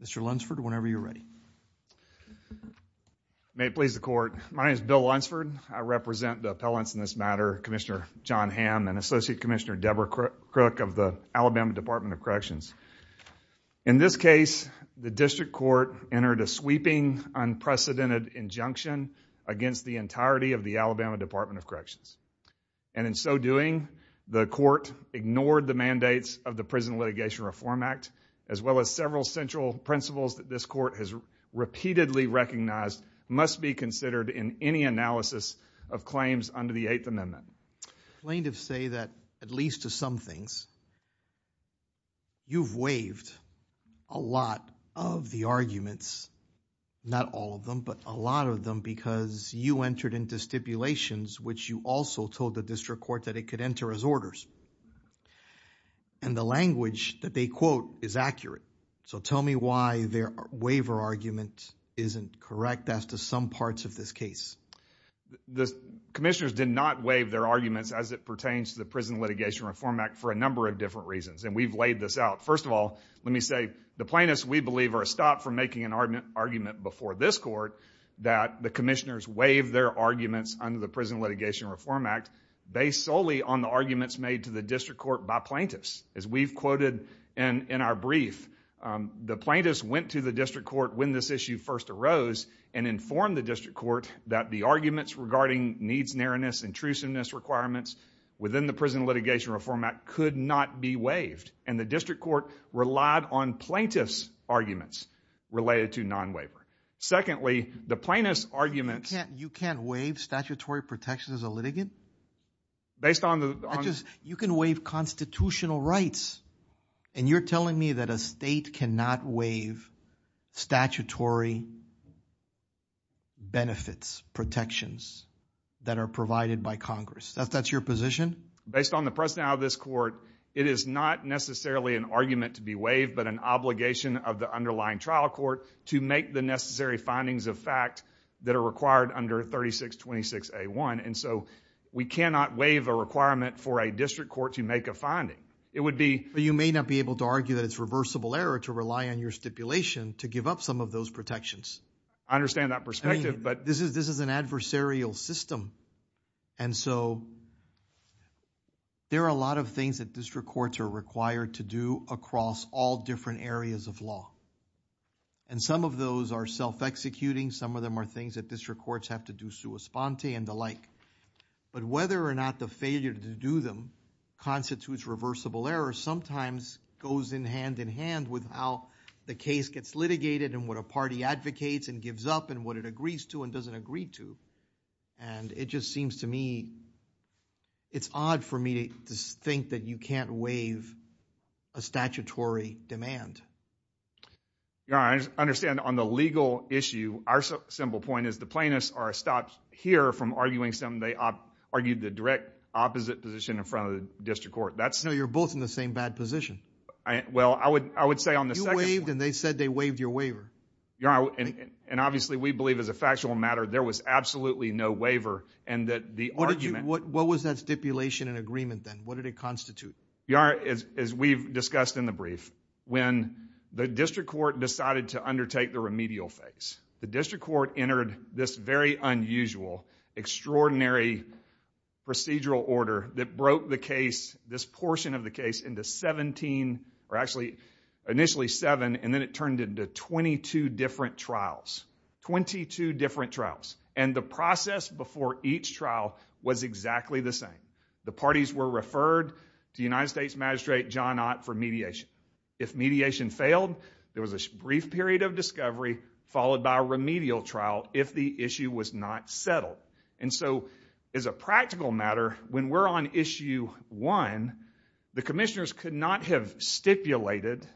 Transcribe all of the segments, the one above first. Mr. Lunsford, whenever you are ready May it please the court, my name is Bill Lunsford, and I am here to speak on behalf of the Alabama Department of Corrections. In this case, the district court entered a sweeping, unprecedented injunction against the entirety of the Alabama Department of Corrections. And in so doing, the court ignored the mandates of the Prison Litigation Reform Act, as well as several central principles that this court has repeatedly recognized must be considered in any analysis of claims under the Eighth Amendment. Plaintiffs say that, at least to some things, you've waived a lot of the arguments, not all of them, but a lot of them because you entered into stipulations which you also told the district court that it could enter as orders. And the language that they quote is accurate, so tell me why their waiver argument isn't correct as to some parts of this case. The commissioners did not waive their arguments as it pertains to the Prison Litigation Reform Act for a number of different reasons, and we've laid this out. First of all, let me say, the plaintiffs we believe are a stop from making an argument before this court that the commissioners waived their arguments under the Prison Litigation Reform Act based solely on the arguments made to the district court by plaintiffs. As we've quoted in our brief, the plaintiffs went to the district court when this issue first arose and informed the district court that the arguments regarding needs, narrowness, intrusiveness requirements within the Prison Litigation Reform Act could not be waived, and the district court relied on plaintiffs' arguments related to non-waiver. Secondly, the plaintiffs' arguments... You can't waive statutory protections as a litigant? Based on the... You can waive constitutional rights, and you're telling me that a state cannot waive statutory benefits, protections that are provided by Congress? That's your position? Based on the personality of this court, it is not necessarily an argument to be waived, but an obligation of the underlying trial court to make the necessary findings of fact that are required under 3626A1, and so we cannot waive a requirement for a district court to make a finding. It would be... But you may not be able to argue that it's reversible error to rely on your stipulation to give up some of those protections. I understand that perspective, but... This is an adversarial system, and so there are a lot of things that district courts are required to do across all different areas of law, and some of those are self-executing. Some of them are things that district courts have to do sua sponte and the like, but whether or not the failure to do them constitutes reversible error sometimes goes hand in hand with how the case gets litigated and what a party advocates and gives up and what it agrees to and doesn't agree to, and it just seems to me... It's odd for me to think that you can't waive a statutory demand. Your Honor, I understand on the legal issue, our simple point is the plaintiffs are stopped here from arguing something they argued the direct opposite position in front of the district court. That's... Well, I would say on the second point... You waived, and they said they waived your waiver. Your Honor, and obviously we believe as a factual matter there was absolutely no waiver, and that the argument... What was that stipulation and agreement then? What did it constitute? Your Honor, as we've discussed in the brief, when the district court decided to undertake the remedial phase, the district court entered this very unusual, extraordinary procedural order that broke the case, this portion of the case, into 17, or actually initially seven, and then it turned into 22 different trials, 22 different trials. And the process before each trial was exactly the same. The parties were referred to United States Magistrate John Ott for mediation. If mediation failed, there was a brief period of discovery followed by a remedial trial if the issue was not settled. And so, as a practical matter, when we're on issue one, the commissioners could not have stipulated,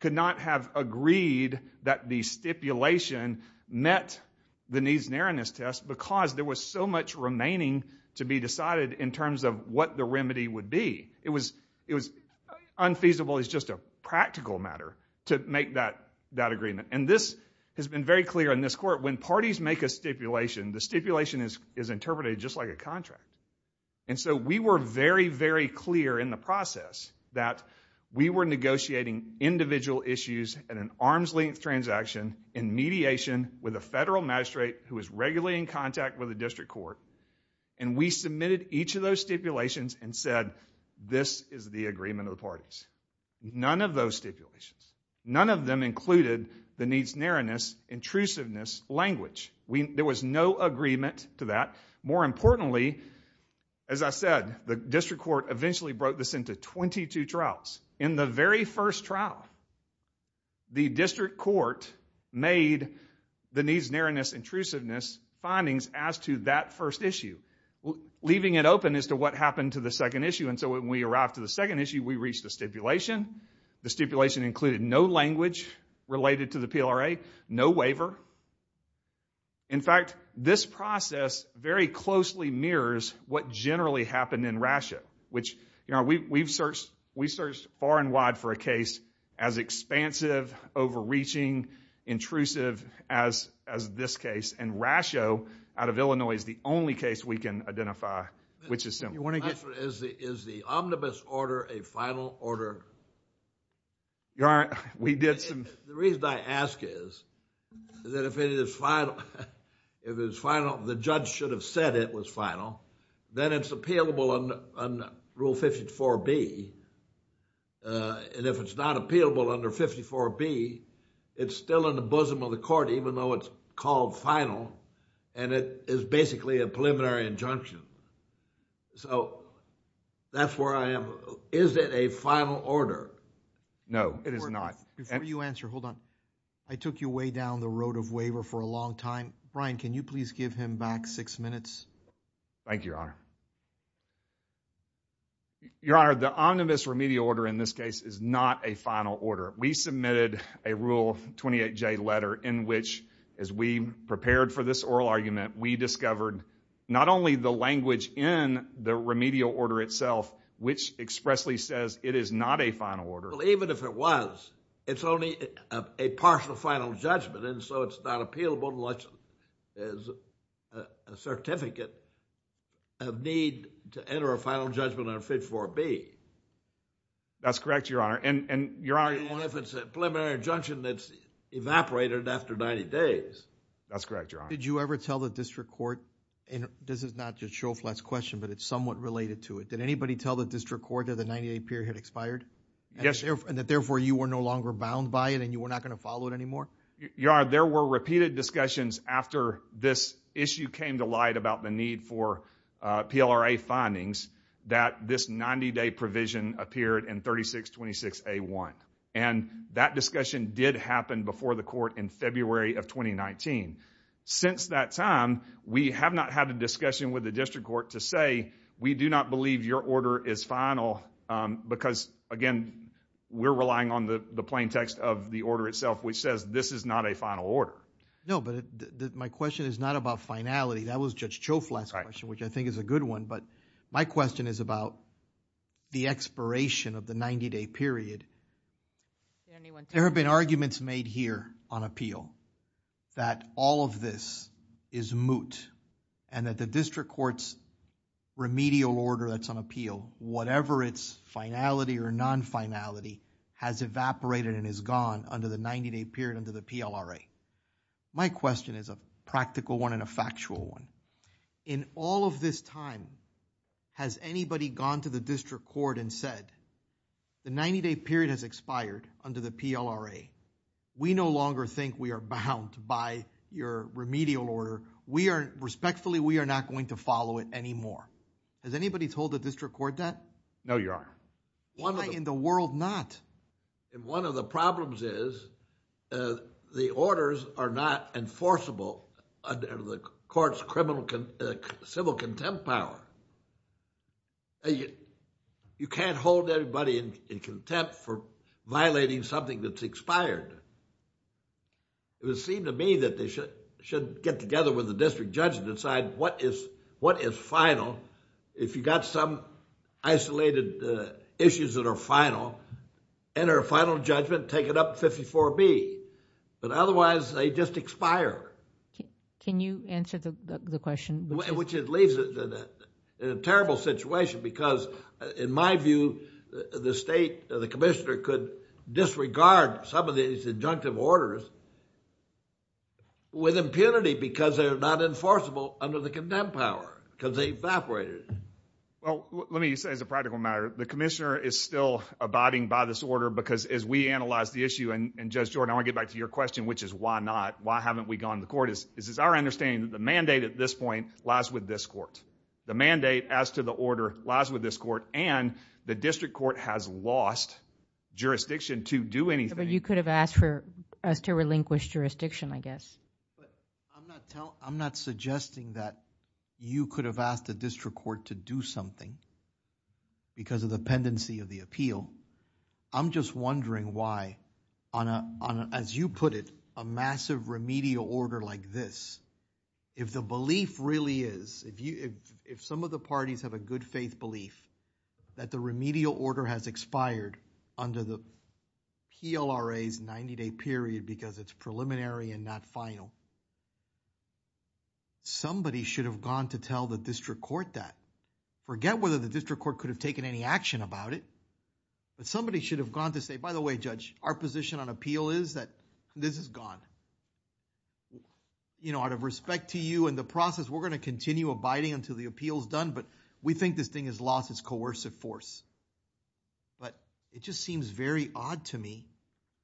could not have agreed that the stipulation met the needs and erroneous test because there was so much remaining to be decided in terms of what the remedy would be. It was unfeasible as just a practical matter to make that agreement. And this has been very clear in this court. When parties make a stipulation, the stipulation is interpreted just like a contract. And so, we were very, very clear in the process that we were negotiating individual issues at an arm's length transaction in mediation with a federal magistrate who was regularly in contact with the district court, and we submitted each of those stipulations and said, this is the agreement of the parties. None of those stipulations, none of them included the needs narrowness, intrusiveness, language. There was no agreement to that. More importantly, as I said, the district court eventually broke this into 22 trials. In the very first trial, the district court made the needs, narrowness, intrusiveness findings as to that first issue, leaving it open as to what happened to the second issue. And so, when we arrived to the second issue, we reached a stipulation. The stipulation included no language related to the PLRA, no waiver. In fact, this process very closely mirrors what generally happened in Rasho, which, you know, we've searched far and wide for a case as expansive, overreaching, intrusive as this case, and Rasho, out of Illinois, is the only case we can identify, which is simple. Is the omnibus order a final order? The reason I ask is that if it is final, the judge should have said it was final, then it's appealable under Rule 54B. And if it's not appealable under 54B, it's still in the bosom of the court, even though it's called final, and it is basically a preliminary injunction. So, that's where I am. Is it a final order? No, it is not. Before you answer, hold on. I took you way down the road of waiver for a long time. Brian, can you please give him back six minutes? Thank you, Your Honor. Your Honor, the omnibus remedial order in this case is not a final order. We submitted a Rule 28J letter in which, as we prepared for this oral argument, we discovered not only the language in the remedial order itself, which expressly says it is not a final order. Well, even if it was, it's only a partial final judgment, and so it's not appealable unless there's a certificate of need to enter a final judgment under 54B. That's correct, Your Honor. And, Your Honor— Even if it's a preliminary injunction that's evaporated after 90 days. That's correct, Your Honor. Did you ever tell the district court—and this is not just Shoflatt's question, but it's somewhat related to it—did anybody tell the district court that the 90-day period had expired? Yes. And that, therefore, you were no longer bound by it and you were not going to follow it anymore? Your Honor, there were repeated discussions after this issue came to light about the need for PLRA findings that this 90-day provision appeared in 3626A1, and that discussion did happen before the court in February of 2019. Since that time, we have not had a discussion with the district court to say we do not believe your order is final because, again, we're relying on the plain text of the order itself, which says this is not a final order. No, but my question is not about finality. That was Judge Shoflatt's question, which I think is a good one, but my question is about the expiration of the 90-day period. There have been arguments made here on appeal that all of this is moot and that the district court's remedial order that's on appeal, whatever its finality or non-finality, has evaporated and is gone under the 90-day period under the PLRA. My question is a practical one and a factual one. In all of this time, has anybody gone to the district court and said the 90-day period has expired under the PLRA? We no longer think we are bound by your remedial order. Respectfully, we are not going to follow it anymore. Has anybody told the district court that? No, you are. Why in the world not? One of the problems is the orders are not enforceable under the court's civil contempt power. You can't hold everybody in contempt for violating something that's expired. It would seem to me that they should get together with the district judge and decide what is final. If you got some isolated issues that are final, enter a final judgment, take it up 54B, but otherwise, they just expire. Can you answer the question? Which it leaves it in a terrible situation because in my view, the state, the commissioner could disregard some of these injunctive orders with impunity because they are not enforceable under the contempt power because they evaporated. Well, let me say as a practical matter, the commissioner is still abiding by this order because as we analyze the issue and Judge Jordan, I want to get back to your question is why not? Why haven't we gone to the court? This is our understanding that the mandate at this point lies with this court. The mandate as to the order lies with this court and the district court has lost jurisdiction to do anything. But you could have asked for us to relinquish jurisdiction, I guess. I'm not suggesting that you could have asked the district court to do something because of the pendency of the appeal. I'm just wondering why, as you put it, a massive remedial order like this, if the belief really is, if some of the parties have a good faith belief that the remedial order has expired under the PLRA's 90-day period because it's preliminary and not final, somebody should have gone to tell the district court that. Forget whether the district court could have taken any action about it, but somebody should have gone to say, by the way, Judge, our position on appeal is that this is gone. Out of respect to you and the process, we're going to continue abiding until the appeal is done, but we think this thing has lost its coercive force. But it just seems very odd to me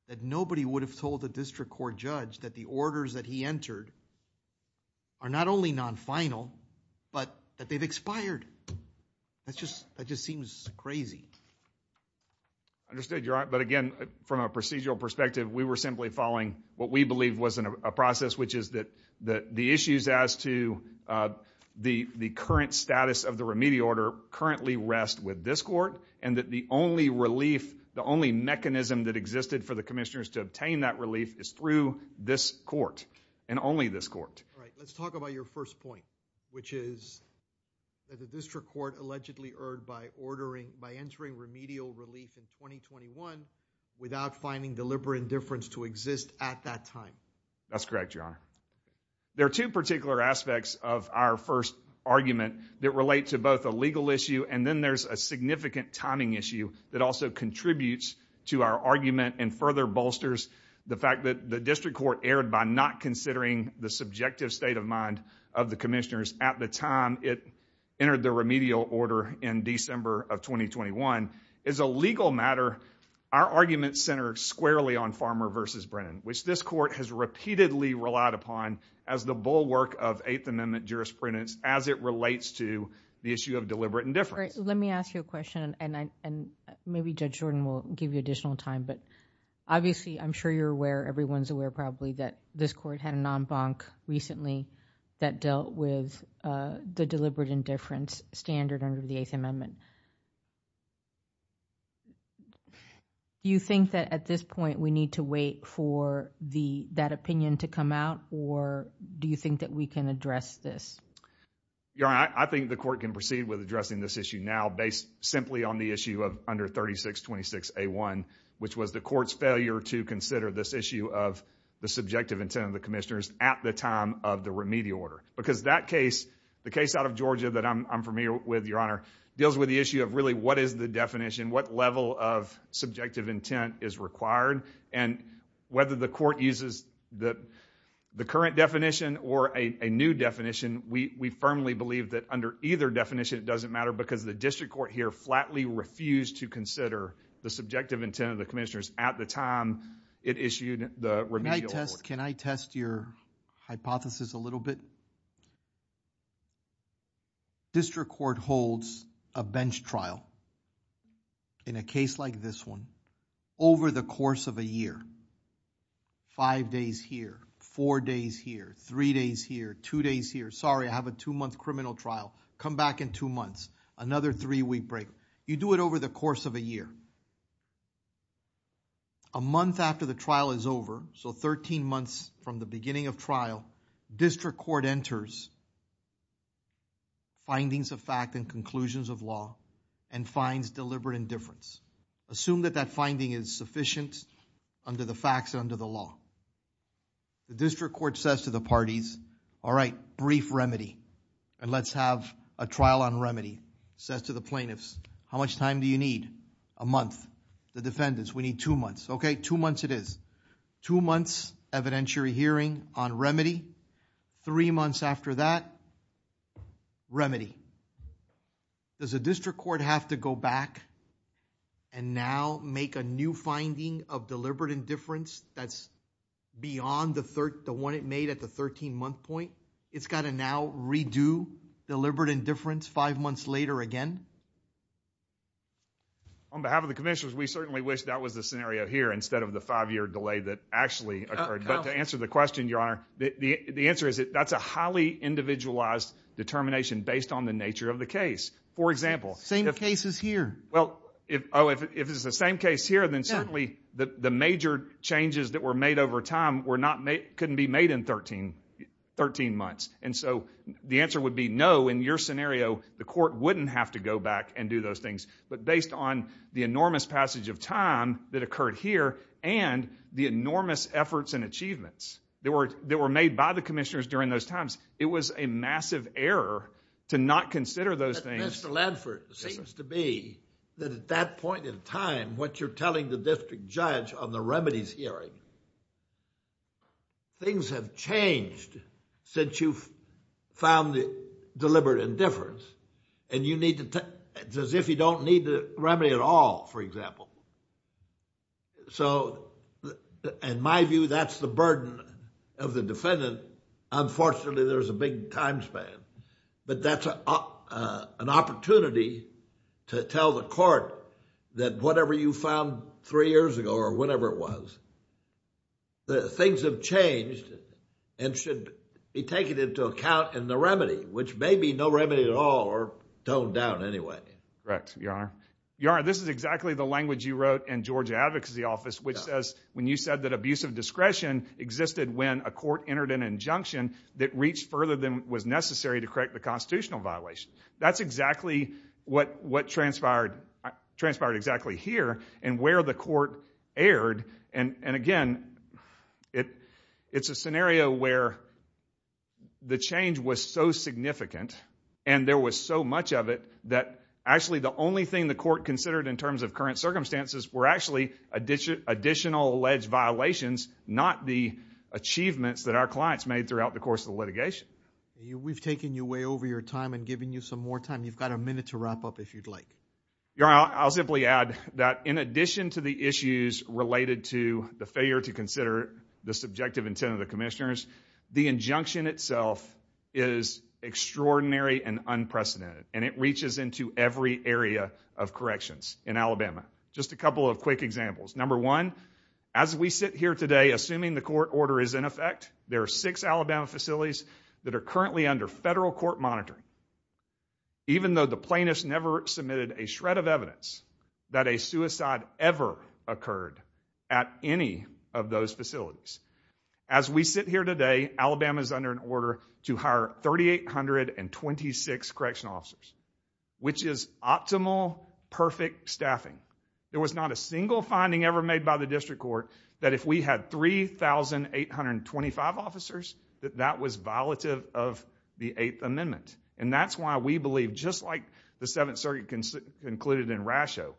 that nobody would have told the district court judge that the orders that he entered are not only non-final, but that they've expired. That just seems crazy. Understood, Your Honor. But again, from a procedural perspective, we were simply following what we believed was a process, which is that the issues as to the current status of the remedial order currently rest with this court and that the only relief, the only mechanism that existed for the commissioners to obtain that relief is through this court and only this court. Right. Let's talk about your first point, which is that the district court allegedly erred by ordering, by entering remedial relief in 2021 without finding deliberate indifference to exist at that time. That's correct, Your Honor. There are two particular aspects of our first argument that relate to both a legal issue and then there's a significant timing issue that also contributes to our argument and further bolsters the fact that the district court erred by not considering the subjective state of mind of the commissioners at the time it entered the remedial order in December of 2021. As a legal matter, our argument centered squarely on Farmer v. Brennan, which this court has repeatedly relied upon as the bulwark of Eighth Amendment jurisprudence as it relates to the issue of deliberate indifference. All right. Let me ask you a question and maybe Judge Jordan will give you additional time, but obviously, I'm sure you're aware, everyone's aware probably that this court had a non-bank recently that dealt with the deliberate indifference standard under the Eighth Amendment. Do you think that at this point we need to wait for that opinion to come out or do you think that we can address this? Your Honor, I think the court can proceed with addressing this issue now based simply on the issue of under 3626A1, which was the court's failure to consider this issue of the subjective intent of the commissioners at the time of the remedial order because that case, the case out of Georgia that I'm familiar with, Your Honor, deals with the issue of really what is the definition, what level of subjective intent is required and whether the court uses the current definition or a new definition, we firmly believe that under either definition, it doesn't matter because the district court here flatly refused to consider the subjective intent of the commissioners at the time it issued the remedial order. Can I test your hypothesis a little bit? Your Honor, district court holds a bench trial in a case like this one over the course of a year, five days here, four days here, three days here, two days here. Sorry, I have a two-month criminal trial. Come back in two months, another three-week break. You do it over the course of a year. A month after the trial is over, so 13 months from the beginning of trial, district court enters findings of fact and conclusions of law and finds deliberate indifference. Assume that that finding is sufficient under the facts and under the law. The district court says to the parties, all right, brief remedy and let's have a trial on remedy, says to the plaintiffs, how much time do you need? A month. The defendants, we need two months. Okay, two months it is. Two months evidentiary hearing on remedy. Three months after that, remedy. Does the district court have to go back and now make a new finding of deliberate indifference that's beyond the one it made at the 13-month point? It's got to now redo deliberate indifference five months later again? On behalf of the commissioners, we certainly wish that was the scenario here instead of the five-year delay that actually occurred. But to answer the question, Your Honor, the answer is that that's a highly individualized determination based on the nature of the case. For example- Same cases here. Well, if it's the same case here, then certainly the major changes that were made over time couldn't be made in 13 months. And so the answer would be no in your scenario. The court wouldn't have to go back and do those things. But based on the enormous passage of time that occurred here and the enormous efforts and achievements that were made by the commissioners during those times, it was a massive error to not consider those things. But Mr. Ledford, it seems to be that at that point in time, what you're telling the district judge on the remedies hearing, things have changed since you found the deliberate indifference. And it's as if you don't need the remedy at all, for example. So in my view, that's the burden of the defendant. Unfortunately, there's a big time span. But that's an opportunity to tell the court that whatever you found three years ago or whatever it was, things have changed and should be taken into account in the remedy, which may be no remedy at all or toned down anyway. Correct, Your Honor. Your Honor, this is exactly the language you wrote in Georgia Advocacy Office, which says when you said that abusive discretion existed when a court entered an injunction that reached further than was necessary to correct the constitutional violation. That's exactly what transpired transpired exactly here and where the court erred. And again, it's a scenario where the change was so significant and there was so much of it that actually the only thing the court considered in terms of current circumstances were actually additional alleged violations, not the achievements that our clients made throughout the course of the litigation. We've taken you way over your time and given you some more time. You've got a minute to wrap up if you'd like. Your Honor, I'll simply add that in addition to the issues related to the failure to consider the subjective intent of the commissioners, the injunction itself is extraordinary and unprecedented and it reaches into every area of corrections in Alabama. Just a couple of quick examples. Number one, as we sit here today, assuming the court order is in effect, there are six Alabama facilities that are currently under federal court monitoring. Even though the plaintiffs never submitted a shred of evidence that a suicide ever occurred at any of those facilities, as we sit here today, Alabama is under an order to hire 3,826 correctional officers, which is optimal, perfect staffing. There was not a single finding ever made by the district court that if we had 3,825 officers that that was violative of the Eighth Amendment. That's why we believe, just like the Seventh Circuit concluded in Rasho,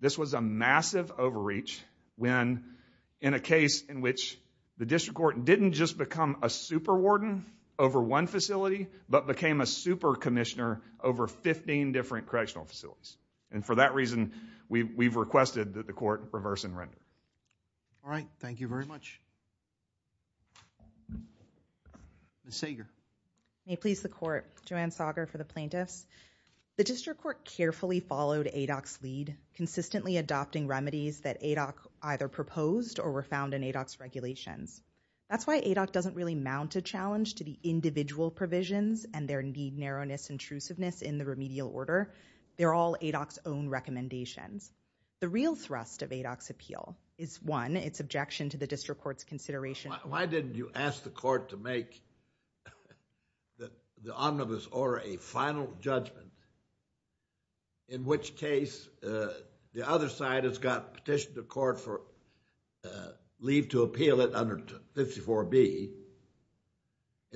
this was a massive overreach when, in a case in which the district court didn't just become a super warden over one facility, but became a super commissioner over 15 different correctional facilities. For that reason, we've requested that the court reverse and render. All right. Thank you very much. Ms. Sager. May it please the court. Joanne Sager for the plaintiffs. The district court carefully followed ADOC's lead, consistently adopting remedies that ADOC either proposed or were found in ADOC's regulations. That's why ADOC doesn't really mount a challenge to the individual provisions and their need narrowness intrusiveness in the remedial order. They're all ADOC's own recommendations. The real thrust of ADOC's appeal is one, its objection to the district court's consideration. Why didn't you ask the court to make the omnibus order a final judgment, in which case the other side has got petitioned the court for leave to appeal it under 54B.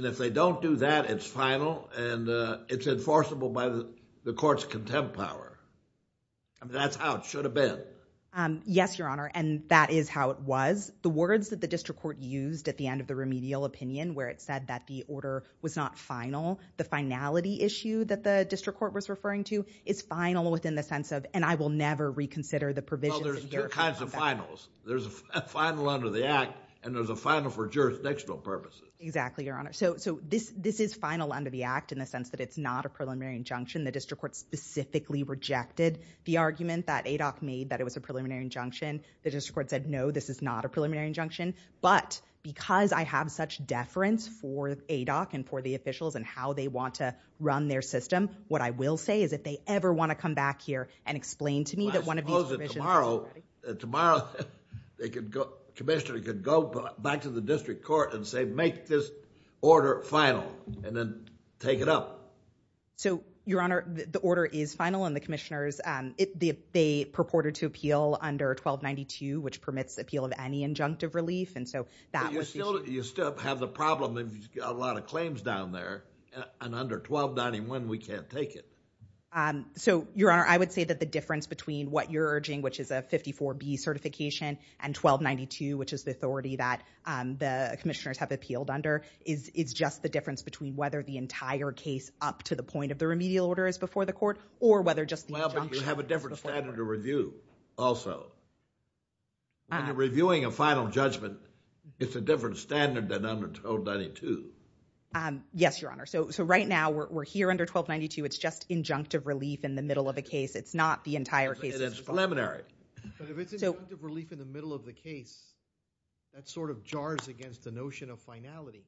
If they don't do that, it's final and it's enforceable by the court's contempt power. That's how it should have been. Yes, Your Honor. That is how it was. The words that the district court used at the end of the remedial opinion, where it said that the order was not final, the finality issue that the district court was referring to is final within the sense of, and I will never reconsider the provisions. Well, there's two kinds of finals. There's a final under the act and there's a final for jurisdictional purposes. Exactly, Your Honor. So this is final under the act in the sense that it's not a preliminary injunction. The district court specifically rejected the argument that ADOC made that it was a preliminary injunction. The district court said, no, this is not a preliminary injunction. But because I have such deference for ADOC and for the officials and how they want to run their system, what I will say is if they ever want to come back here and explain to me that one of these provisions- I suppose that tomorrow, the commissioner could go back to the district court and say, make this order final and then take it up. So, Your Honor, the order is final and the commissioners, they purported to appeal under 1292, which permits the appeal of any injunctive relief. And so that was the issue. You still have the problem of a lot of claims down there and under 1291, we can't take it. So, Your Honor, I would say that the difference between what you're urging, which is a 54B certification and 1292, which is the authority that the commissioners have appealed under, is just the difference between whether the entire case up to the point of injunction is the full court. Well, but you have a different standard of review also. When you're reviewing a final judgment, it's a different standard than under 1292. Yes, Your Honor. So, right now, we're here under 1292. It's just injunctive relief in the middle of a case. It's not the entire case- And it's preliminary. But if it's injunctive relief in the middle of the case, that sort of jars against the notion of finality.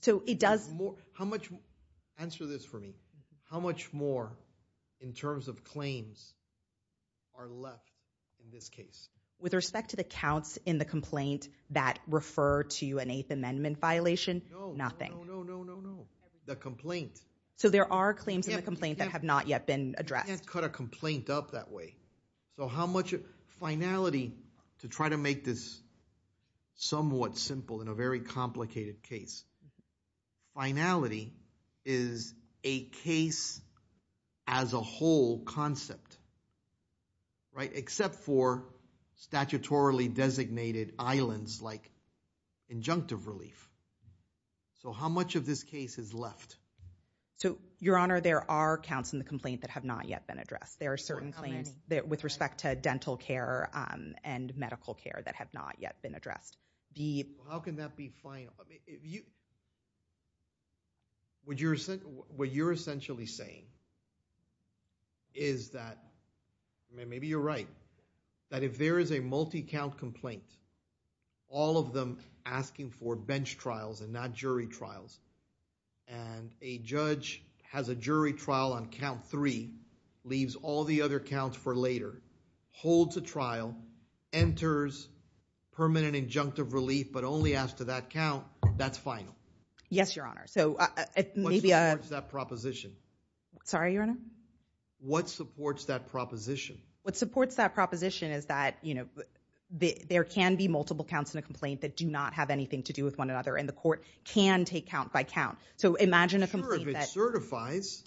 So, it does- Answer this for me. How much more, in terms of claims, are left in this case? With respect to the counts in the complaint that refer to an Eighth Amendment violation, nothing. No, no, no, no, no, no. The complaint. So, there are claims in the complaint that have not yet been addressed. You can't cut a complaint up that way. So, how much finality to try to make this somewhat simple in a very complicated case. Finality is a case as a whole concept, right? Except for statutorily designated islands like injunctive relief. So, how much of this case is left? So, Your Honor, there are counts in the complaint that have not yet been addressed. There are certain claims with respect to dental care and medical care that have not yet been addressed. The- How can that be final? What you're essentially saying is that, maybe you're right, that if there is a multi-count complaint, all of them asking for bench trials and not jury trials, and a judge has a jury trial on count three, leaves all the other counts for later, holds a trial, enters permanent injunctive relief, but only asks to that count, that's final. Yes, Your Honor. So, maybe- What supports that proposition? Sorry, Your Honor? What supports that proposition? What supports that proposition is that, you know, there can be multiple counts in a complaint that do not have anything to do with one another, and the court can take count by count. So, imagine a complaint that- Sure, if it certifies.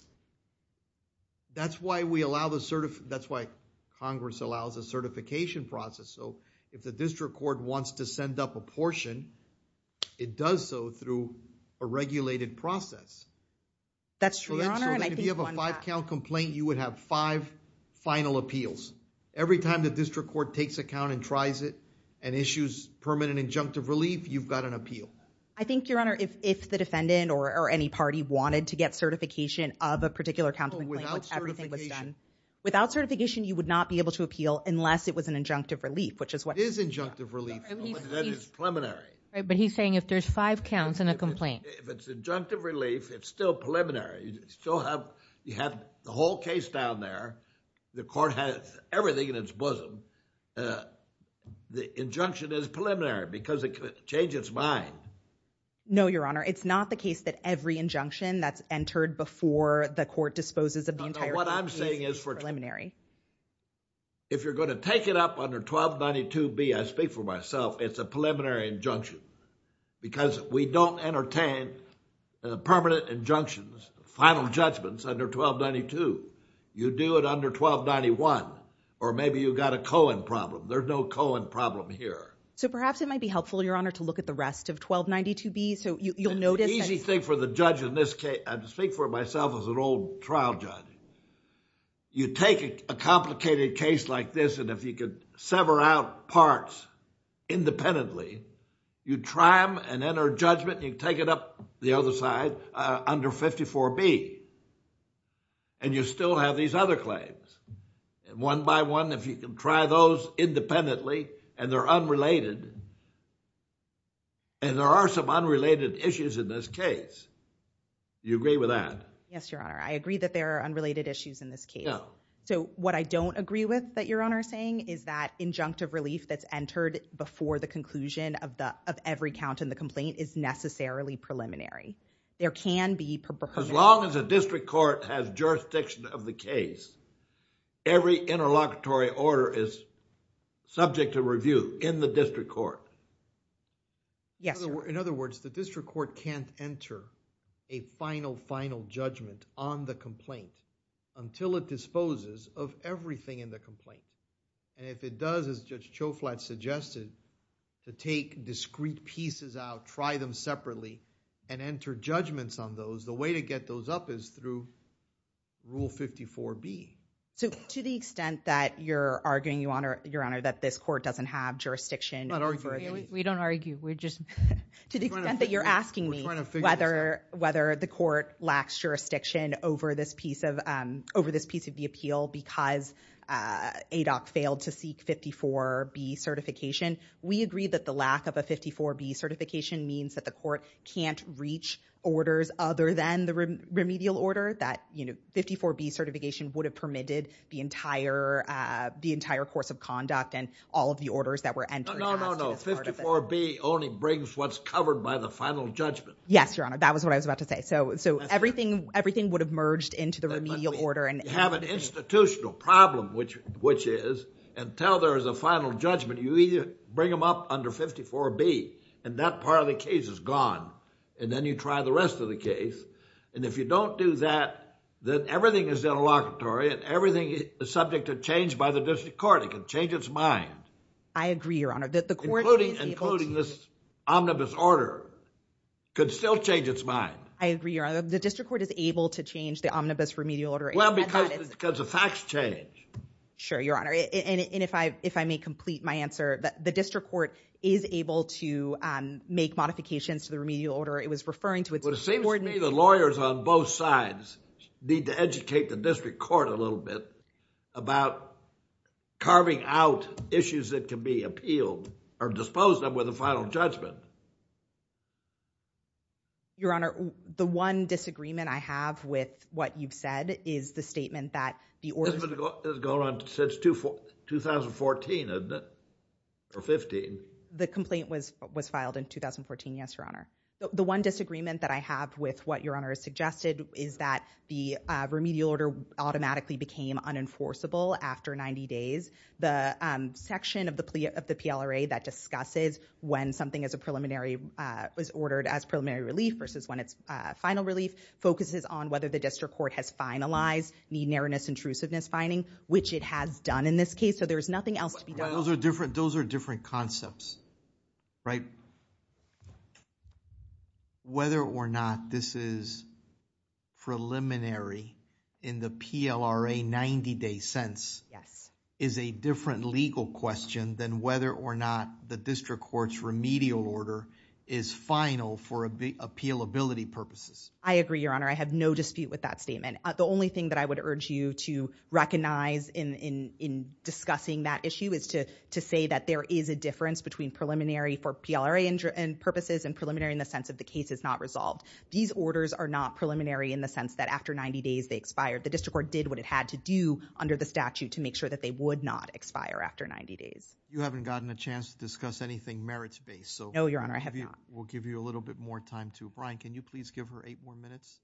That's why we allow the cert- that's why Congress allows a certification process. So, if the district court wants to send up a portion, it does so through a regulated process. That's true, Your Honor, and I think one that- So, if you have a five-count complaint, you would have five final appeals. Every time the district court takes a count and tries it, and issues permanent injunctive relief, you've got an appeal. I think, Your Honor, if the defendant or any party wanted to get certification of a particular count of the complaint, which everything was done- Oh, without certification. You would not be able to appeal unless it was an injunctive relief, which is what- It is injunctive relief, but that is preliminary. Right, but he's saying if there's five counts in a complaint- If it's injunctive relief, it's still preliminary. You still have- you have the whole case down there. The court has everything in its bosom. The injunction is preliminary, because it could change its mind. No, Your Honor, it's not the case that every injunction that's entered before the court disposes of the entire- What I'm saying is for- Preliminary. If you're going to take it up under 1292B, I speak for myself, it's a preliminary injunction, because we don't entertain permanent injunctions, final judgments under 1292. You do it under 1291, or maybe you've got a Cohen problem. There's no Cohen problem here. Perhaps it might be helpful, Your Honor, to look at the rest of 1292B, so you'll notice- For the judge in this case, I speak for myself as an old trial judge, you take a complicated case like this, and if you could sever out parts independently, you try them and enter judgment, and you take it up the other side under 54B, and you still have these other claims. One by one, if you can try those independently, and they're unrelated, and there are some unrelated issues in this case, do you agree with that? Yes, Your Honor. I agree that there are unrelated issues in this case. So what I don't agree with that Your Honor is saying is that injunctive relief that's entered before the conclusion of every count in the complaint is necessarily preliminary. There can be- As long as a district court has jurisdiction of the case, every interlocutory order is subject to review in the district court. Yes, Your Honor. In other words, the district court can't enter a final, final judgment on the complaint until it disposes of everything in the complaint, and if it does, as Judge Choflat suggested, to take discrete pieces out, try them separately, and enter judgments on those, the way to get those up is through Rule 54B. To the extent that you're arguing, Your Honor, that this court doesn't have jurisdiction- I don't argue. We don't argue. To the extent that you're asking me whether the court lacks jurisdiction over this piece of the appeal because ADOC failed to seek 54B certification, we agree that the lack of a 54B certification means that the court can't reach orders other than the remedial order. That 54B certification would have permitted the entire course of conduct and all of the orders that were entered. No, no, no. 54B only brings what's covered by the final judgment. Yes, Your Honor. That was what I was about to say. So everything would have merged into the remedial order and- You have an institutional problem, which is until there is a final judgment, you either bring them up under 54B and that part of the case is gone, and then you try the rest of the case. And if you don't do that, then everything is interlocutory and everything is subject to change by the district court. It can change its mind. I agree, Your Honor. The court- Including this omnibus order could still change its mind. I agree, Your Honor. The district court is able to change the omnibus remedial order- Well, because the facts change. Sure, Your Honor. And if I may complete my answer, the district court is able to make modifications to the remedial order. It was referring to- But it seems to me the lawyers on both sides need to educate the district court a little bit about carving out issues that can be appealed or disposed of with a final judgment. Your Honor, the one disagreement I have with what you've said is the statement that the order- It's been going on since 2014, isn't it? Or 15. The complaint was filed in 2014, yes, Your Honor. The one disagreement that I have with what Your Honor has suggested is that the remedial order automatically became unenforceable after 90 days. The section of the PLRA that discusses when something is a preliminary- was ordered as preliminary relief versus when it's final relief focuses on whether the district court has finalized the nearness intrusiveness finding, which it has done in this case. So, there's nothing else to be done. Those are different concepts, right? Whether or not this is preliminary in the PLRA 90-day sense- Yes. Is a different legal question than whether or not the district court's remedial order is final for appealability purposes. I agree, Your Honor. I have no dispute with that statement. The only thing that I would urge you to recognize in discussing that issue is to say that there is a difference between preliminary for PLRA purposes and preliminary in the sense of the case is not resolved. These orders are not preliminary in the sense that after 90 days, they expired. The district court did what it had to do under the statute to make sure that they would not expire after 90 days. You haven't gotten a chance to discuss anything merits-based, so- No, Your Honor. I have not. We'll give you a little bit more time, too. Can you please give her eight more minutes?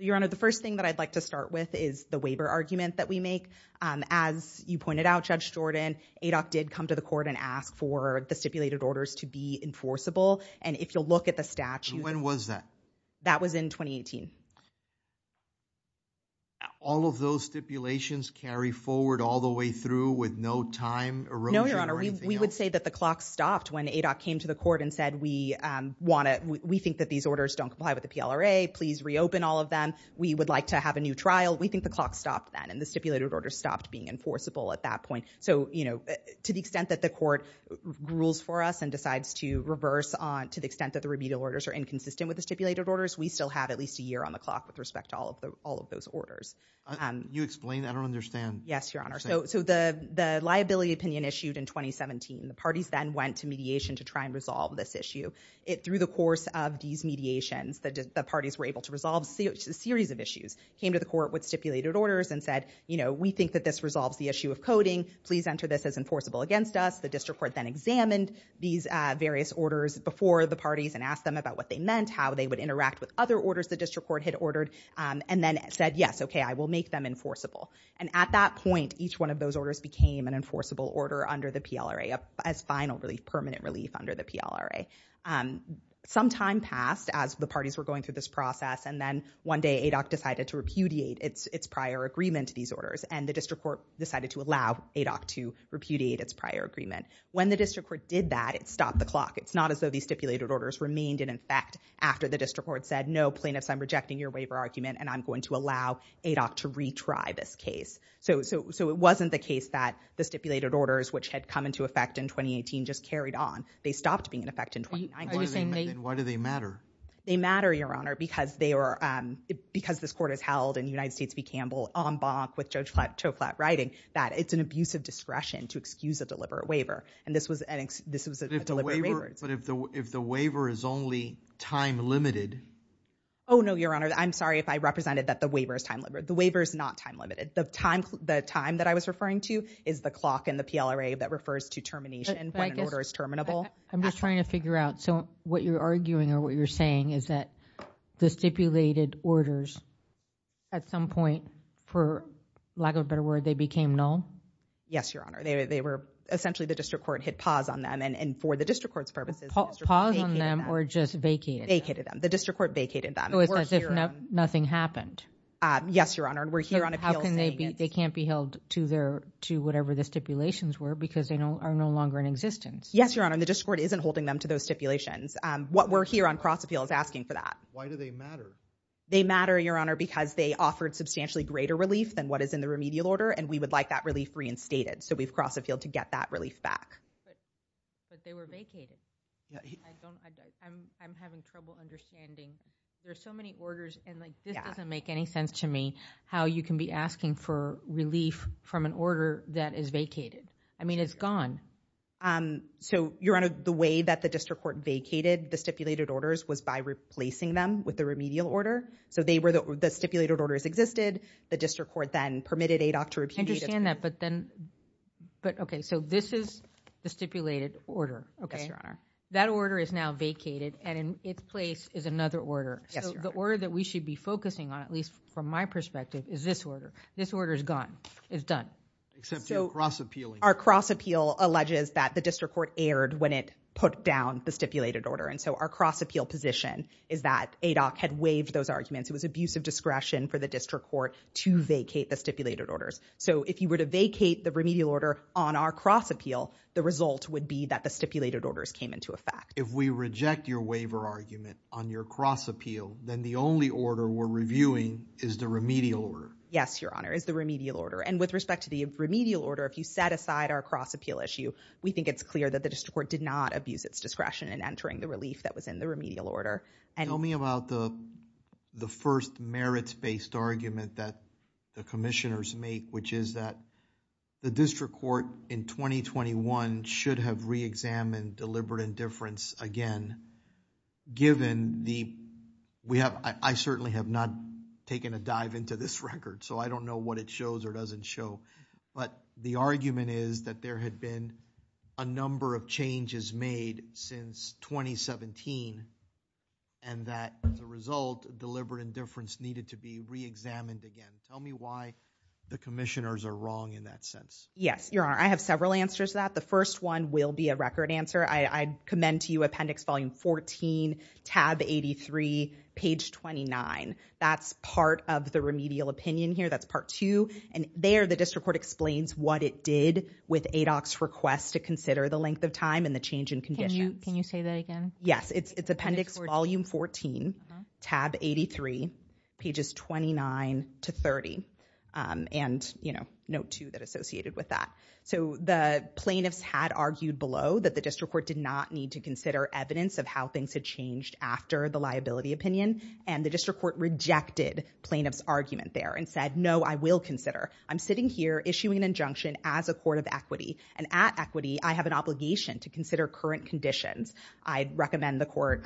Your Honor, the first thing that I'd like to start with is the waiver argument that we make. As you pointed out, Judge Jordan, ADOC did come to the court and ask for the stipulated orders to be enforceable. And if you'll look at the statute- When was that? That was in 2018. All of those stipulations carry forward all the way through with no time erosion or anything else? No, Your Honor. We would say that the clock stopped when ADOC came to the court and said, we think that these orders don't comply with the PLRA. Please reopen all of them. We would like to have a new trial. We think the clock stopped then, and the stipulated orders stopped being enforceable at that point. So to the extent that the court rules for us and decides to reverse to the extent that the remedial orders are inconsistent with the stipulated orders, we still have at least a year on the clock with respect to all of those orders. Can you explain? I don't understand. Yes, Your Honor. So the liability opinion issued in 2017, the parties then went to mediation to try and resolve this issue. Through the course of these mediations, the parties were able to resolve a series of issues, came to the court with stipulated orders and said, we think that this resolves the issue of coding. Please enter this as enforceable against us. The district court then examined these various orders before the parties and asked them about what they meant, how they would interact with other orders the district court had ordered, and then said, yes, OK, I will make them enforceable. And at that point, each one of those orders became an enforceable order under the PLRA as final relief, permanent relief under the PLRA. Some time passed as the parties were going through this process, and then one day ADOC decided to repudiate its prior agreement to these orders, and the district court decided to allow ADOC to repudiate its prior agreement. When the district court did that, it stopped the clock. It's not as though these stipulated orders remained in effect after the district court said, no, plaintiffs, I'm rejecting your waiver argument, and I'm going to allow ADOC to retry this case. So it wasn't the case that the stipulated orders, which had come into effect in 2018, just carried on. They stopped being in effect in 2019. Why do they matter? They matter, Your Honor, because this court has held, and United States v. Campbell en banc with Judge Choklat writing, that it's an abuse of discretion to excuse a deliberate waiver. And this was a deliberate waiver. But if the waiver is only time limited? Oh, no, Your Honor. I'm sorry if I represented that the waiver is time limited. The waiver is not time limited. The time that I was referring to is the clock in the PLRA that refers to termination when an order is terminable. I'm just trying to figure out. So what you're arguing, or what you're saying, is that the stipulated orders, at some point, for lack of a better word, they became null? Yes, Your Honor. Essentially, the district court hit pause on them. And for the district court's purposes, the district court vacated them. Pause on them, or just vacated them? Vacated them. The district court vacated them. So it's as if nothing happened? Yes, Your Honor. And we're here on appeal saying it's— They can't be held to whatever the stipulations were because they are no longer in existence? Yes, Your Honor. And the district court isn't holding them to those stipulations. What we're here on cross-appeal is asking for that. Why do they matter? They matter, Your Honor, because they offered substantially greater relief than what is in the remedial order. And we would like that relief reinstated. So we've crossed the field to get that relief back. But they were vacated. I'm having trouble understanding. There are so many orders. And this doesn't make any sense to me, how you can be asking for relief from an order that is vacated. I mean, it's gone. So, Your Honor, the way that the district court vacated the stipulated orders was by replacing them with the remedial order. So the stipulated orders existed. The district court then permitted ADOC to— I understand that, but then— But, OK, so this is the stipulated order. Yes, Your Honor. That order is now vacated. And in its place is another order. Yes, Your Honor. The order that we should be focusing on, at least from my perspective, is this order. This order is gone. It's done. Except you're cross-appealing. Our cross-appeal alleges that the district court erred when it put down the stipulated order. And so our cross-appeal position is that ADOC had waived those arguments. It was abuse of discretion for the district court to vacate the stipulated orders. So if you were to vacate the remedial order on our cross-appeal, the result would be that the stipulated orders came into effect. If we reject your waiver argument on your cross-appeal, then the only order we're reviewing is the remedial order. Yes, Your Honor, is the remedial order. And with respect to the remedial order, if you set aside our cross-appeal issue, we think it's clear that the district court did not abuse its discretion in entering the relief that was in the remedial order. Tell me about the first merits-based argument that the commissioners make, which is that the district court in 2021 should have re-examined deliberate indifference again, given the... I certainly have not taken a dive into this record, so I don't know what it shows or doesn't show. But the argument is that there had been a number of changes made since 2017, and that as a result, deliberate indifference needed to be re-examined again. Tell me why the commissioners are wrong in that sense. Yes, Your Honor, I have several answers to that. The first one will be a record answer. I commend to you Appendix Volume 14, Tab 83, page 29. That's part of the remedial opinion here. That's part two. And there, the district court explains what it did with ADOC's request to consider the length of time and the change in conditions. Can you say that again? Yes, it's Appendix Volume 14, Tab 83, pages 29 to 30, and Note 2 that's associated with that. So the plaintiffs had argued below that the district court did not need to consider evidence of how things had changed after the liability opinion, and the district court rejected plaintiff's argument there and said, no, I will consider. I'm sitting here issuing an injunction as a court of equity, and at equity, I have an obligation to consider current conditions. I'd recommend the court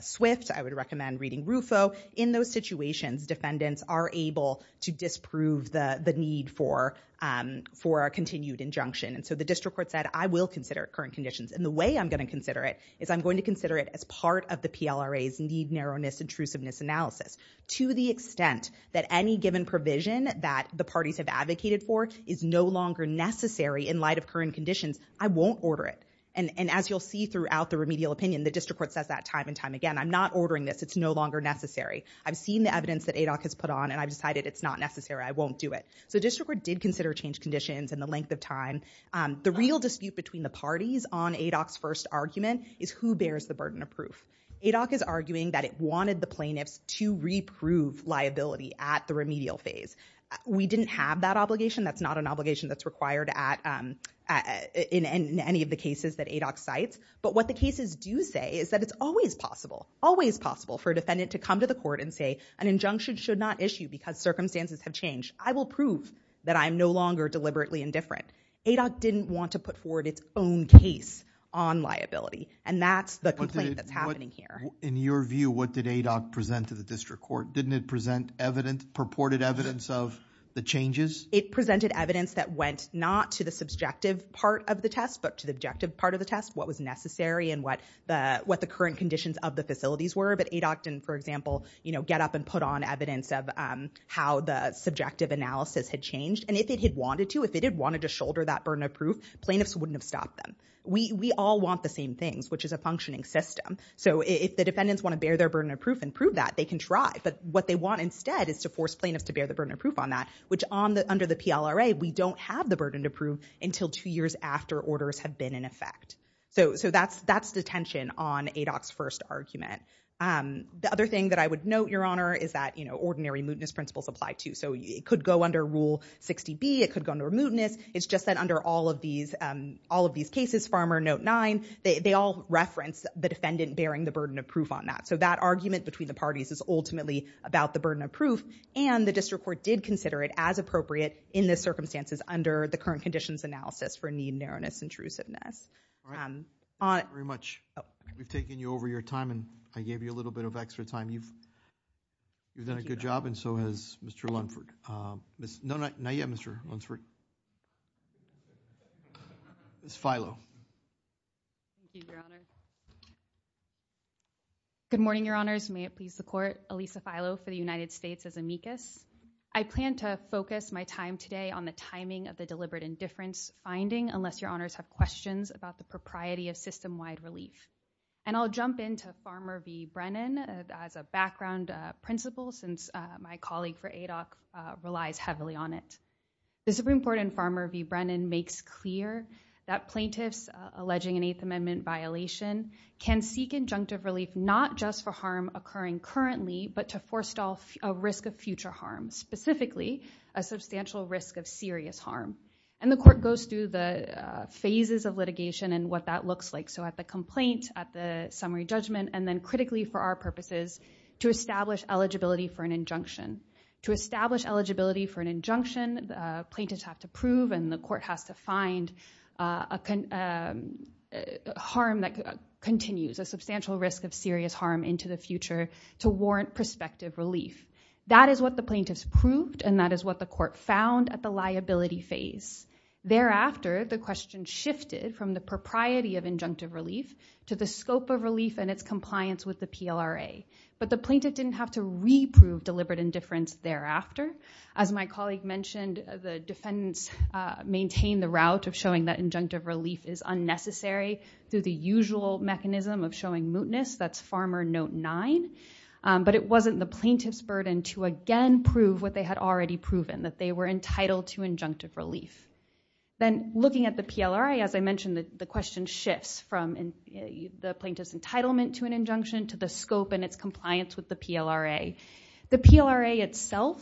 swift. I would recommend reading RUFO. In those situations, defendants are able to disprove the need for a continued injunction. And so the district court said, I will consider current conditions. And the way I'm going to consider it is I'm going to consider it as part of the PLRA's need, narrowness, intrusiveness analysis. To the extent that any given provision that the parties have advocated for is no longer necessary in light of current conditions, I won't order it. And as you'll see throughout the remedial opinion, the district court says that time and time again. I'm not ordering this. It's no longer necessary. I've seen the evidence that ADOC has put on, and I've decided it's not necessary. I won't do it. So the district court did consider changed conditions and the length of time. The real dispute between the parties on ADOC's first argument is who bears the burden of proof. ADOC is arguing that it wanted the plaintiffs to reprove liability at the remedial phase. We didn't have that obligation. That's not an obligation that's required in any of the cases that ADOC cites. But what the cases do say is that it's always possible, always possible for a defendant to come to the court and say an injunction should not issue because circumstances have changed. I will prove that I'm no longer deliberately indifferent. ADOC didn't want to put forward its own case on liability. And that's the complaint that's happening here. In your view, what did ADOC present to the district court? Didn't it present purported evidence of the changes? It presented evidence that went not to the subjective part of the test, but to the objective part of the test, what was necessary and what the current conditions of the facilities were. But ADOC didn't, for example, get up and put on evidence of how the subjective analysis had changed. And if it had wanted to, if it had wanted to shoulder that burden of proof, plaintiffs wouldn't have stopped them. We all want the same things, which is a functioning system. So if the defendants want to bear their burden of proof and prove that, they can try. But what they want instead is to force plaintiffs to bear the burden of proof on that, which under the PLRA, we don't have the burden to prove until two years after orders have been in effect. So that's the tension on ADOC's first argument. The other thing that I would note, Your Honor, is that ordinary mootness principles apply too. So it could go under Rule 60B. It could go under mootness. It's just that under all of these cases, Farmer, Note 9, they all reference the defendant bearing the burden of proof on that. So that argument between the parties is ultimately about the burden of proof. And the district court did consider it as appropriate in the circumstances under the current conditions analysis for need, narrowness, intrusiveness. All right. Thank you very much. We've taken you over your time, and I gave you a little bit of extra time. You've done a good job, and so has Mr. Lunford. No, not yet, Mr. Lunford. Ms. Filo. Thank you, Your Honor. Good morning, Your Honors. May it please the Court. Elisa Filo for the United States as amicus. I plan to focus my time today on the timing of the deliberate indifference finding, unless Your Honors have questions about the propriety of system-wide relief. And I'll jump into Farmer v. Brennan as a background principle, since my colleague for ADOC relies heavily on it. The Supreme Court in Farmer v. Brennan makes clear that plaintiffs alleging an Eighth Amendment violation can seek injunctive relief, not just for harm occurring currently, but to forestall a risk of future harm, specifically a substantial risk of serious harm. And the Court goes through the phases of litigation and what that looks like, so at the complaint, at the summary judgment, and then critically for our purposes, to establish eligibility for an injunction. To establish eligibility for an injunction, plaintiffs have to prove, and the Court has to find, a harm that continues, a substantial risk of serious harm into the future to warrant prospective relief. That is what the plaintiffs proved, and that is what the Court found at the liability phase. Thereafter, the question shifted from the propriety of injunctive relief to the scope of relief and its compliance with the PLRA. But the plaintiff didn't have to re-prove deliberate indifference thereafter. As my colleague mentioned, the defendants maintained the route of showing that injunctive relief is unnecessary through the usual mechanism of showing mootness, that's Farmer Note 9. But it wasn't the plaintiff's burden to again prove what they had already proven, that they were entitled to injunctive relief. Then, looking at the PLRA, as I mentioned, the question shifts from the plaintiff's entitlement to an injunction to the scope and its compliance with the PLRA. The PLRA itself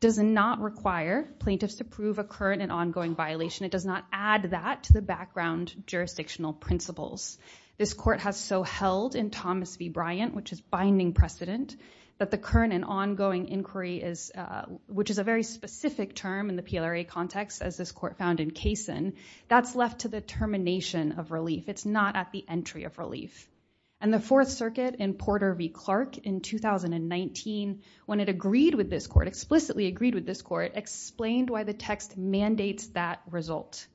does not require plaintiffs to prove a current and ongoing violation. It does not add that to the background jurisdictional principles. This Court has so held in Thomas v. Bryant, which is binding precedent, that the current and ongoing inquiry, which is a very specific term in the PLRA context, as this Court found in Kaysen, that's left to the termination of relief. It's not at the entry of relief. The Fourth Circuit in Porter v. Clark in 2019, when it agreed with this Court, explicitly agreed with this Court, explained why the text mandates that result.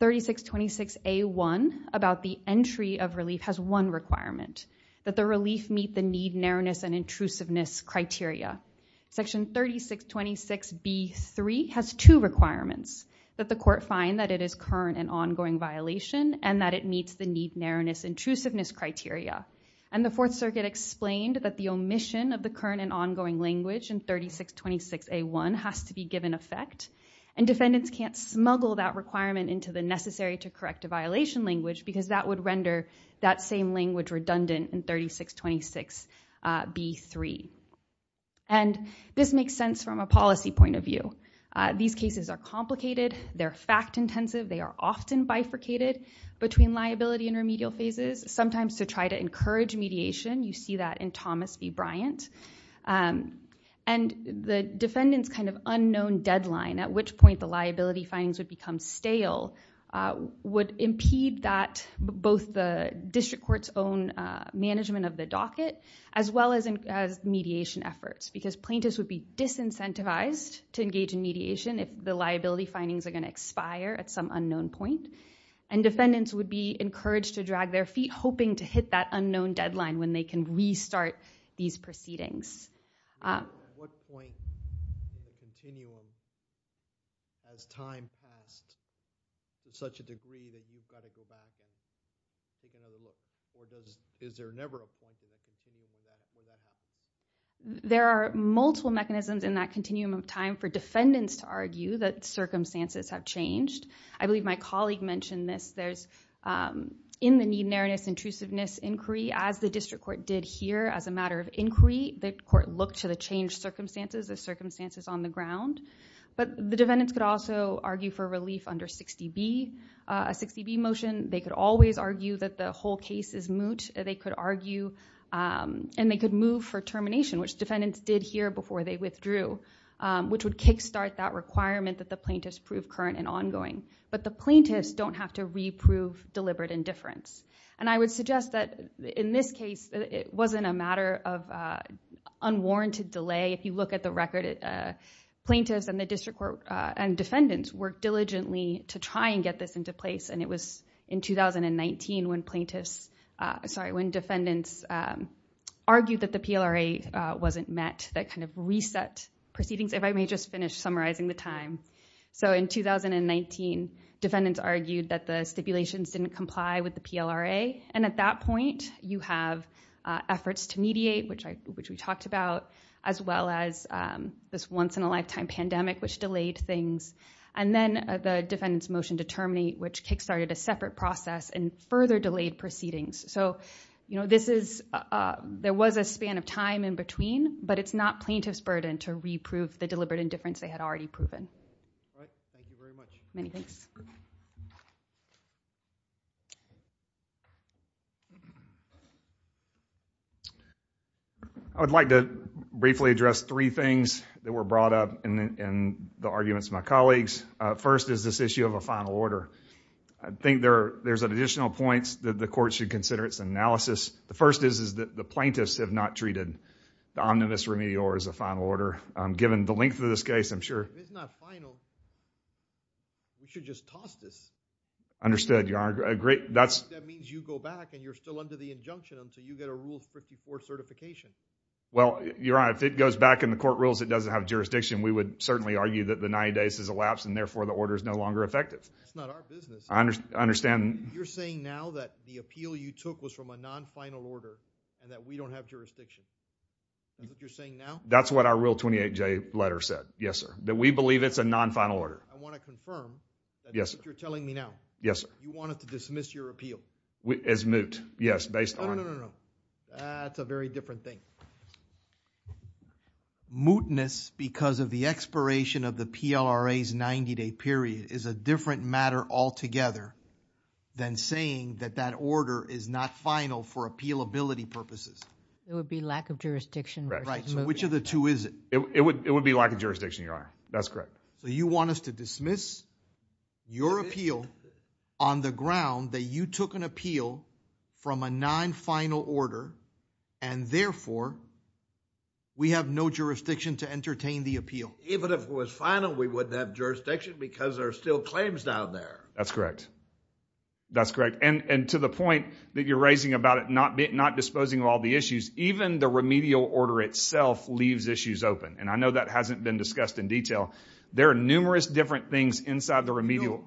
3626A.1, about the entry of relief, has one requirement, that the relief meet the need, narrowness, and intrusiveness criteria. Section 3626B.3 has two requirements, that the Court find that it is current and ongoing violation, and that it meets the need, narrowness, intrusiveness criteria. And the Fourth Circuit explained that the omission of the current and ongoing language in 3626A.1 has to be given effect, and defendants can't smuggle that requirement into the necessary to correct a violation language, because that would render that same language redundant in 3626B.3. And this makes sense from a policy point of view. These cases are complicated. They're fact-intensive. They are often bifurcated between liability and remedial phases. Sometimes to try to encourage mediation, you see that in Thomas v. Bryant. And the defendant's kind of unknown deadline, at which point the liability findings would become stale, would impede that, both the district court's own management of the docket, as well as mediation efforts, because plaintiffs would be disincentivized to engage in mediation if the liability findings are going to expire at some unknown point, and defendants would be encouraged to drag their feet, hoping to hit that unknown deadline when they can restart these proceedings. At what point in the continuum has time passed to such a degree that you've got to go back? Is there never a point in the continuum where you have to go back? There are multiple mechanisms in that continuum of time for defendants to argue that circumstances have changed. I believe my colleague mentioned this. There's in the need, nearness, intrusiveness inquiry, as the district court did here as a matter of inquiry. The court looked to the changed circumstances, the circumstances on the ground. But the defendants could also argue for relief under 60B, a 60B motion. They could always argue that the whole case is moot. They could argue, and they could move for termination, which defendants did here before they withdrew, which would kickstart that requirement that the plaintiffs prove current and ongoing. But the plaintiffs don't have to reprove deliberate indifference. And I would suggest that in this case, it wasn't a matter of unwarranted delay. If you look at the record, plaintiffs and the district court and defendants worked diligently to try and get this into place. And it was in 2019 when defendants argued that the PLRA wasn't met, that kind of reset proceedings. If I may just finish summarizing the time. So in 2019, defendants argued that the stipulations didn't comply with the PLRA. And at that point, you have efforts to mediate, which we talked about, as well as this once in a lifetime pandemic, which delayed things. And then the defendant's motion to terminate, which kickstarted a separate process and further delayed proceedings. So there was a span of time in between, but it's not plaintiff's burden to reprove the deliberate indifference they had already proven. All right. Thank you very much. Many thanks. I would like to briefly address three things that were brought up in the arguments of my colleagues. First is this issue of a final order. I think there's additional points that the court should consider. It's an analysis. The first is that the plaintiffs have not treated the omnibus remedior as a final order, given the length of this case, I'm sure. If it's not final, you should just toss this. Understood. Your Honor, I agree. That means you go back and you're still under the injunction until you get a Rules 54 certification. Well, Your Honor, if it goes back in the court rules, it doesn't have jurisdiction. We would certainly argue that the 90 days has elapsed and therefore the order is no longer effective. It's not our business. I understand. You're saying now that the appeal you took was from a non-final order and that we don't have jurisdiction. Is that what you're saying now? That's what our Rule 28J letter said. Yes, sir. That we believe it's a non-final order. I want to confirm. Yes, sir. You're telling me now. Yes, sir. You want us to dismiss your appeal? As moot. Yes, based on... No, no, no, no, no. That's a very different thing. Mootness because of the expiration of the PLRA's 90-day period is a different matter altogether than saying that that order is not final for appealability purposes. It would be lack of jurisdiction versus mootness. Right. So which of the two is it? It would be lack of jurisdiction, Your Honor. That's correct. So you want us to dismiss your appeal on the ground that you took an appeal from a non-final order and therefore we have no jurisdiction to entertain the appeal? Even if it was final, we wouldn't have jurisdiction because there are still claims down there. That's correct. That's correct. And to the point that you're raising about it not disposing of all the issues, even the remedial order itself leaves issues open. And I know that hasn't been discussed in detail. There are numerous different things inside the remedial...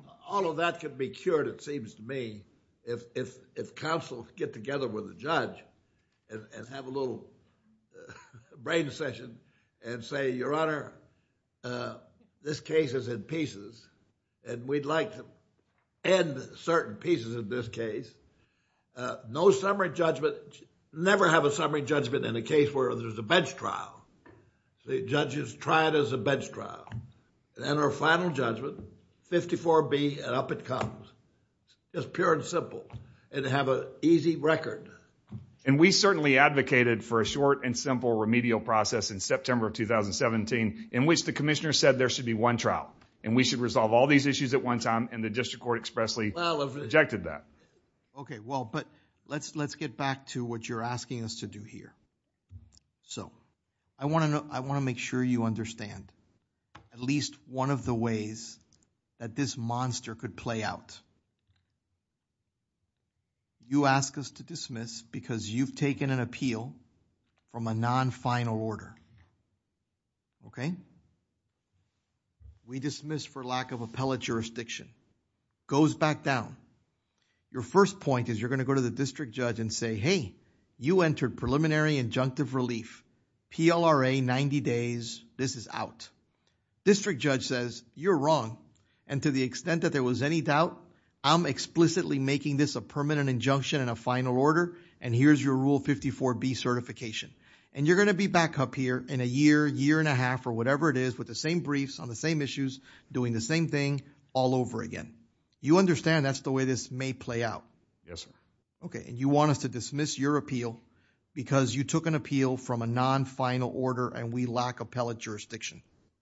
and have a little brain session and say, Your Honor, this case is in pieces and we'd like to end certain pieces in this case. No summary judgment, never have a summary judgment in a case where there's a bench trial. The judges try it as a bench trial. Then our final judgment, 54B and up it comes. It's pure and simple and have an easy record. And we certainly advocated for a short and simple remedial process in September of 2017 in which the commissioner said there should be one trial and we should resolve all these issues at one time. And the district court expressly rejected that. Okay, well, but let's get back to what you're asking us to do here. So I want to make sure you understand at least one of the ways that this monster could play out. You ask us to dismiss because you've taken an appeal from a non-final order. Okay, we dismiss for lack of appellate jurisdiction, goes back down. Your first point is you're going to go to the district judge and say, Hey, you entered preliminary injunctive relief, PLRA 90 days, this is out. District judge says you're wrong. And to the extent that there was any doubt, I'm explicitly making this a permanent injunction in a final order. And here's your rule 54B certification. And you're going to be back up here in a year, year and a half, or whatever it is with the same briefs on the same issues, doing the same thing all over again. You understand that's the way this may play out. Yes, sir. Okay, and you want us to dismiss your appeal because you took an appeal from a non-final order and we lack appellate jurisdiction.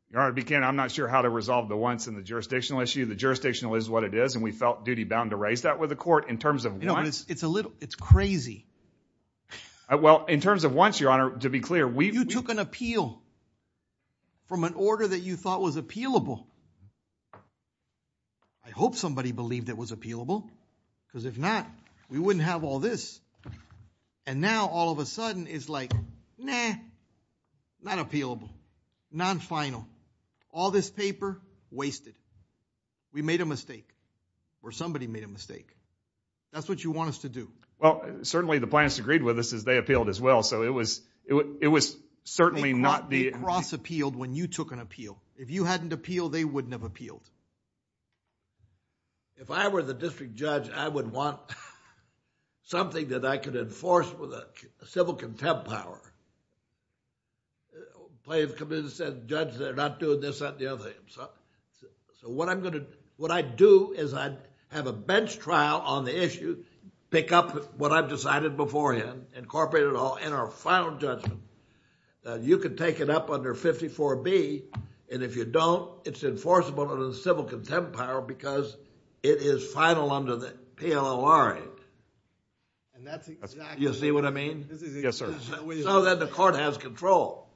Your Honor, I'm not sure how to resolve the once in the jurisdictional issue. The jurisdictional is what it is. And we felt duty bound to raise that with the court in terms of once. It's a little, it's crazy. Well, in terms of once, Your Honor, to be clear, we- You took an appeal from an order that you thought was appealable. I hope somebody believed it was appealable because if not, we wouldn't have all this. And now all of a sudden it's like, nah, not appealable, non-final. All this paper, wasted. We made a mistake or somebody made a mistake. That's what you want us to do. Well, certainly the plaintiffs agreed with us as they appealed as well. So it was certainly not the- They cross-appealed when you took an appeal. If you hadn't appealed, they wouldn't have appealed. If I were the district judge, I would want something that I could enforce with a civil contempt power. The plaintiff comes in and says, judge, they're not doing this, that, and the other thing. So what I'm going to, what I'd do is I'd have a bench trial on the issue, pick up what I've decided beforehand, incorporate it all in our final judgment. You can take it up under 54B and if you don't, it's enforceable under the civil contempt power because it is final under the PLORA. And that's exactly- You see what I mean? Yes, sir. So that the court has control.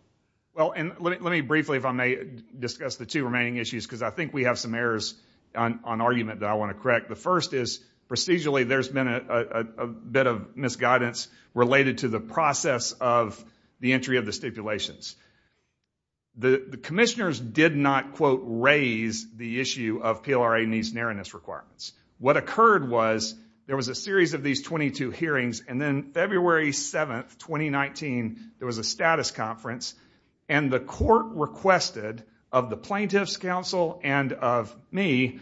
Well, and let me briefly, if I may, discuss the two remaining issues because I think we have some errors on argument that I want to correct. The first is procedurally there's been a bit of misguidance related to the process of the entry of the stipulations. The commissioners did not, quote, raise the issue of PLORA needs and erroneous requirements. What occurred was there was a series of these 22 hearings and then February 7th, 2019, there was a status conference and the court requested of the plaintiff's counsel and of me,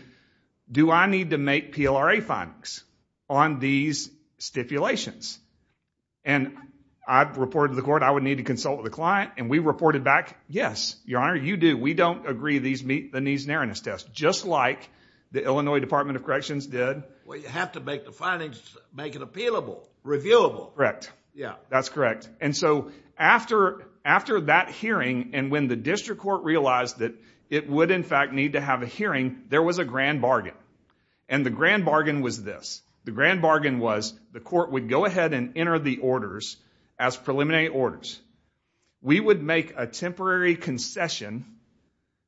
do I need to make PLRA findings on these stipulations? And I've reported to the court I would need to consult with the client and we reported back, yes, your honor, you do. We don't agree these meet the needs and erroneous tests just like the Illinois Department of Corrections did. Well, you have to make the findings, make it appealable, reviewable. Correct. Yeah. That's correct. And so after that hearing and when the district court realized that it would in fact need to have a hearing, there was a grand bargain. And the grand bargain was this. The grand bargain was the court would go ahead and enter the orders as preliminary orders. We would make a temporary concession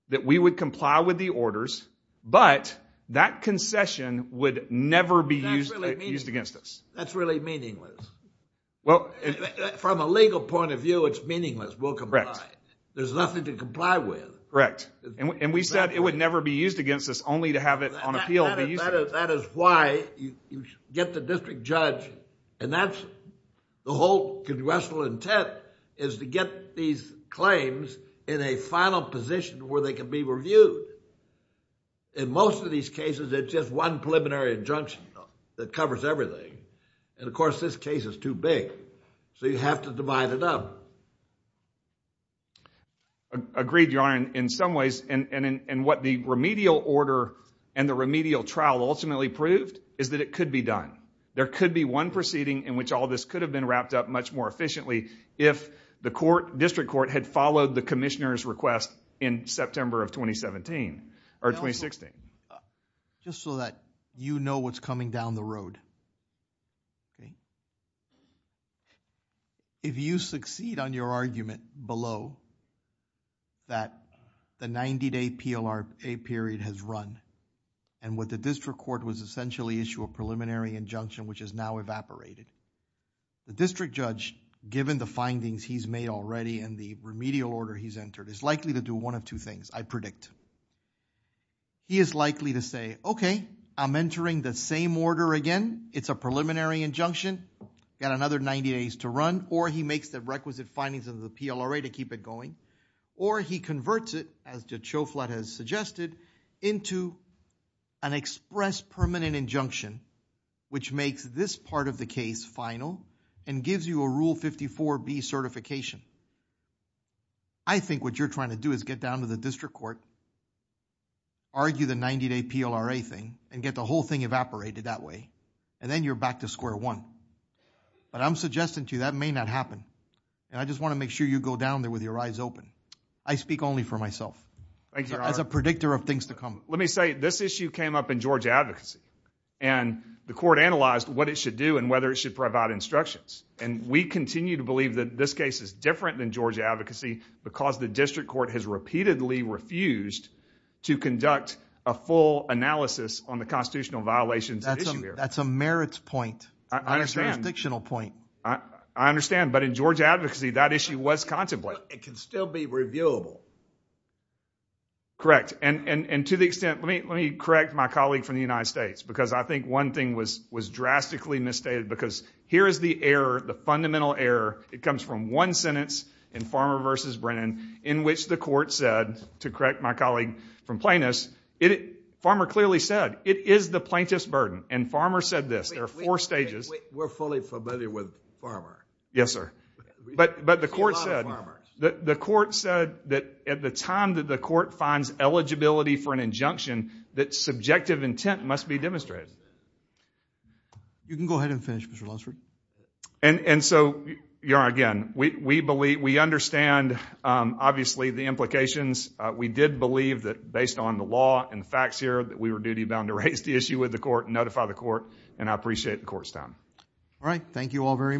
that we would comply with the orders, but that concession would never be used against us. That's really meaningless. From a legal point of view, it's meaningless. We'll comply. There's nothing to comply with. Correct. And we said it would never be used against us only to have it on appeal. That is why you get the district judge and that's the whole congressional intent is to get these claims in a final position where they can be reviewed. In most of these cases, it's just one preliminary injunction that covers everything. And of course, this case is too big. So you have to divide it up. Agreed, Your Honor. In some ways, and what the remedial order and the remedial trial ultimately proved is that it could be done. There could be one proceeding in which all this could have been wrapped up much more efficiently if the district court had followed the commissioner's request in September of 2017. Or 2016. Just so that you know what's coming down the road. If you succeed on your argument below that the 90-day PLRA period has run and what the district court was essentially issue a preliminary injunction which is now evaporated, the district judge given the findings he's made already and the remedial order he's entered is likely to do one of two things, I predict. He is likely to say, okay, I'm entering the same order again. It's a preliminary injunction. Got another 90 days to run. Or he makes the requisite findings of the PLRA to keep it going. Or he converts it as Jachoflat has suggested into an express permanent injunction which makes this part of the case final and gives you a Rule 54B certification. I think what you're trying to do is get down to the district court argue the 90-day PLRA thing and get the whole thing evaporated that way and then you're back to square one. But I'm suggesting to you that may not happen. And I just want to make sure you go down there with your eyes open. I speak only for myself as a predictor of things to come. Let me say this issue came up in Georgia advocacy and the court analyzed what it should do and whether it should provide instructions. And we continue to believe that this case is different than Georgia advocacy because the district court has repeatedly refused to conduct a full analysis on the constitutional violations. That's a merits point, a jurisdictional point. I understand. But in Georgia advocacy, that issue was contemplated. It can still be reviewable. Correct. And to the extent, let me correct my colleague from the United States because I think one thing was drastically misstated because here is the error, the fundamental error. It comes from one sentence in Farmer versus Brennan in which the court said, to correct my colleague from Plaintiffs, Farmer clearly said, it is the plaintiff's burden. And Farmer said this. There are four stages. We're fully familiar with Farmer. Yes, sir. But the court said that at the time that the court finds eligibility for an injunction, that subjective intent must be demonstrated. You can go ahead and finish, Mr. Lunsford. And so, again, we understand, obviously, the implications. We did believe that based on the law and the facts here, that we were duty bound to raise the issue with the court and notify the court. And I appreciate the court's time. All right. Thank you all very much.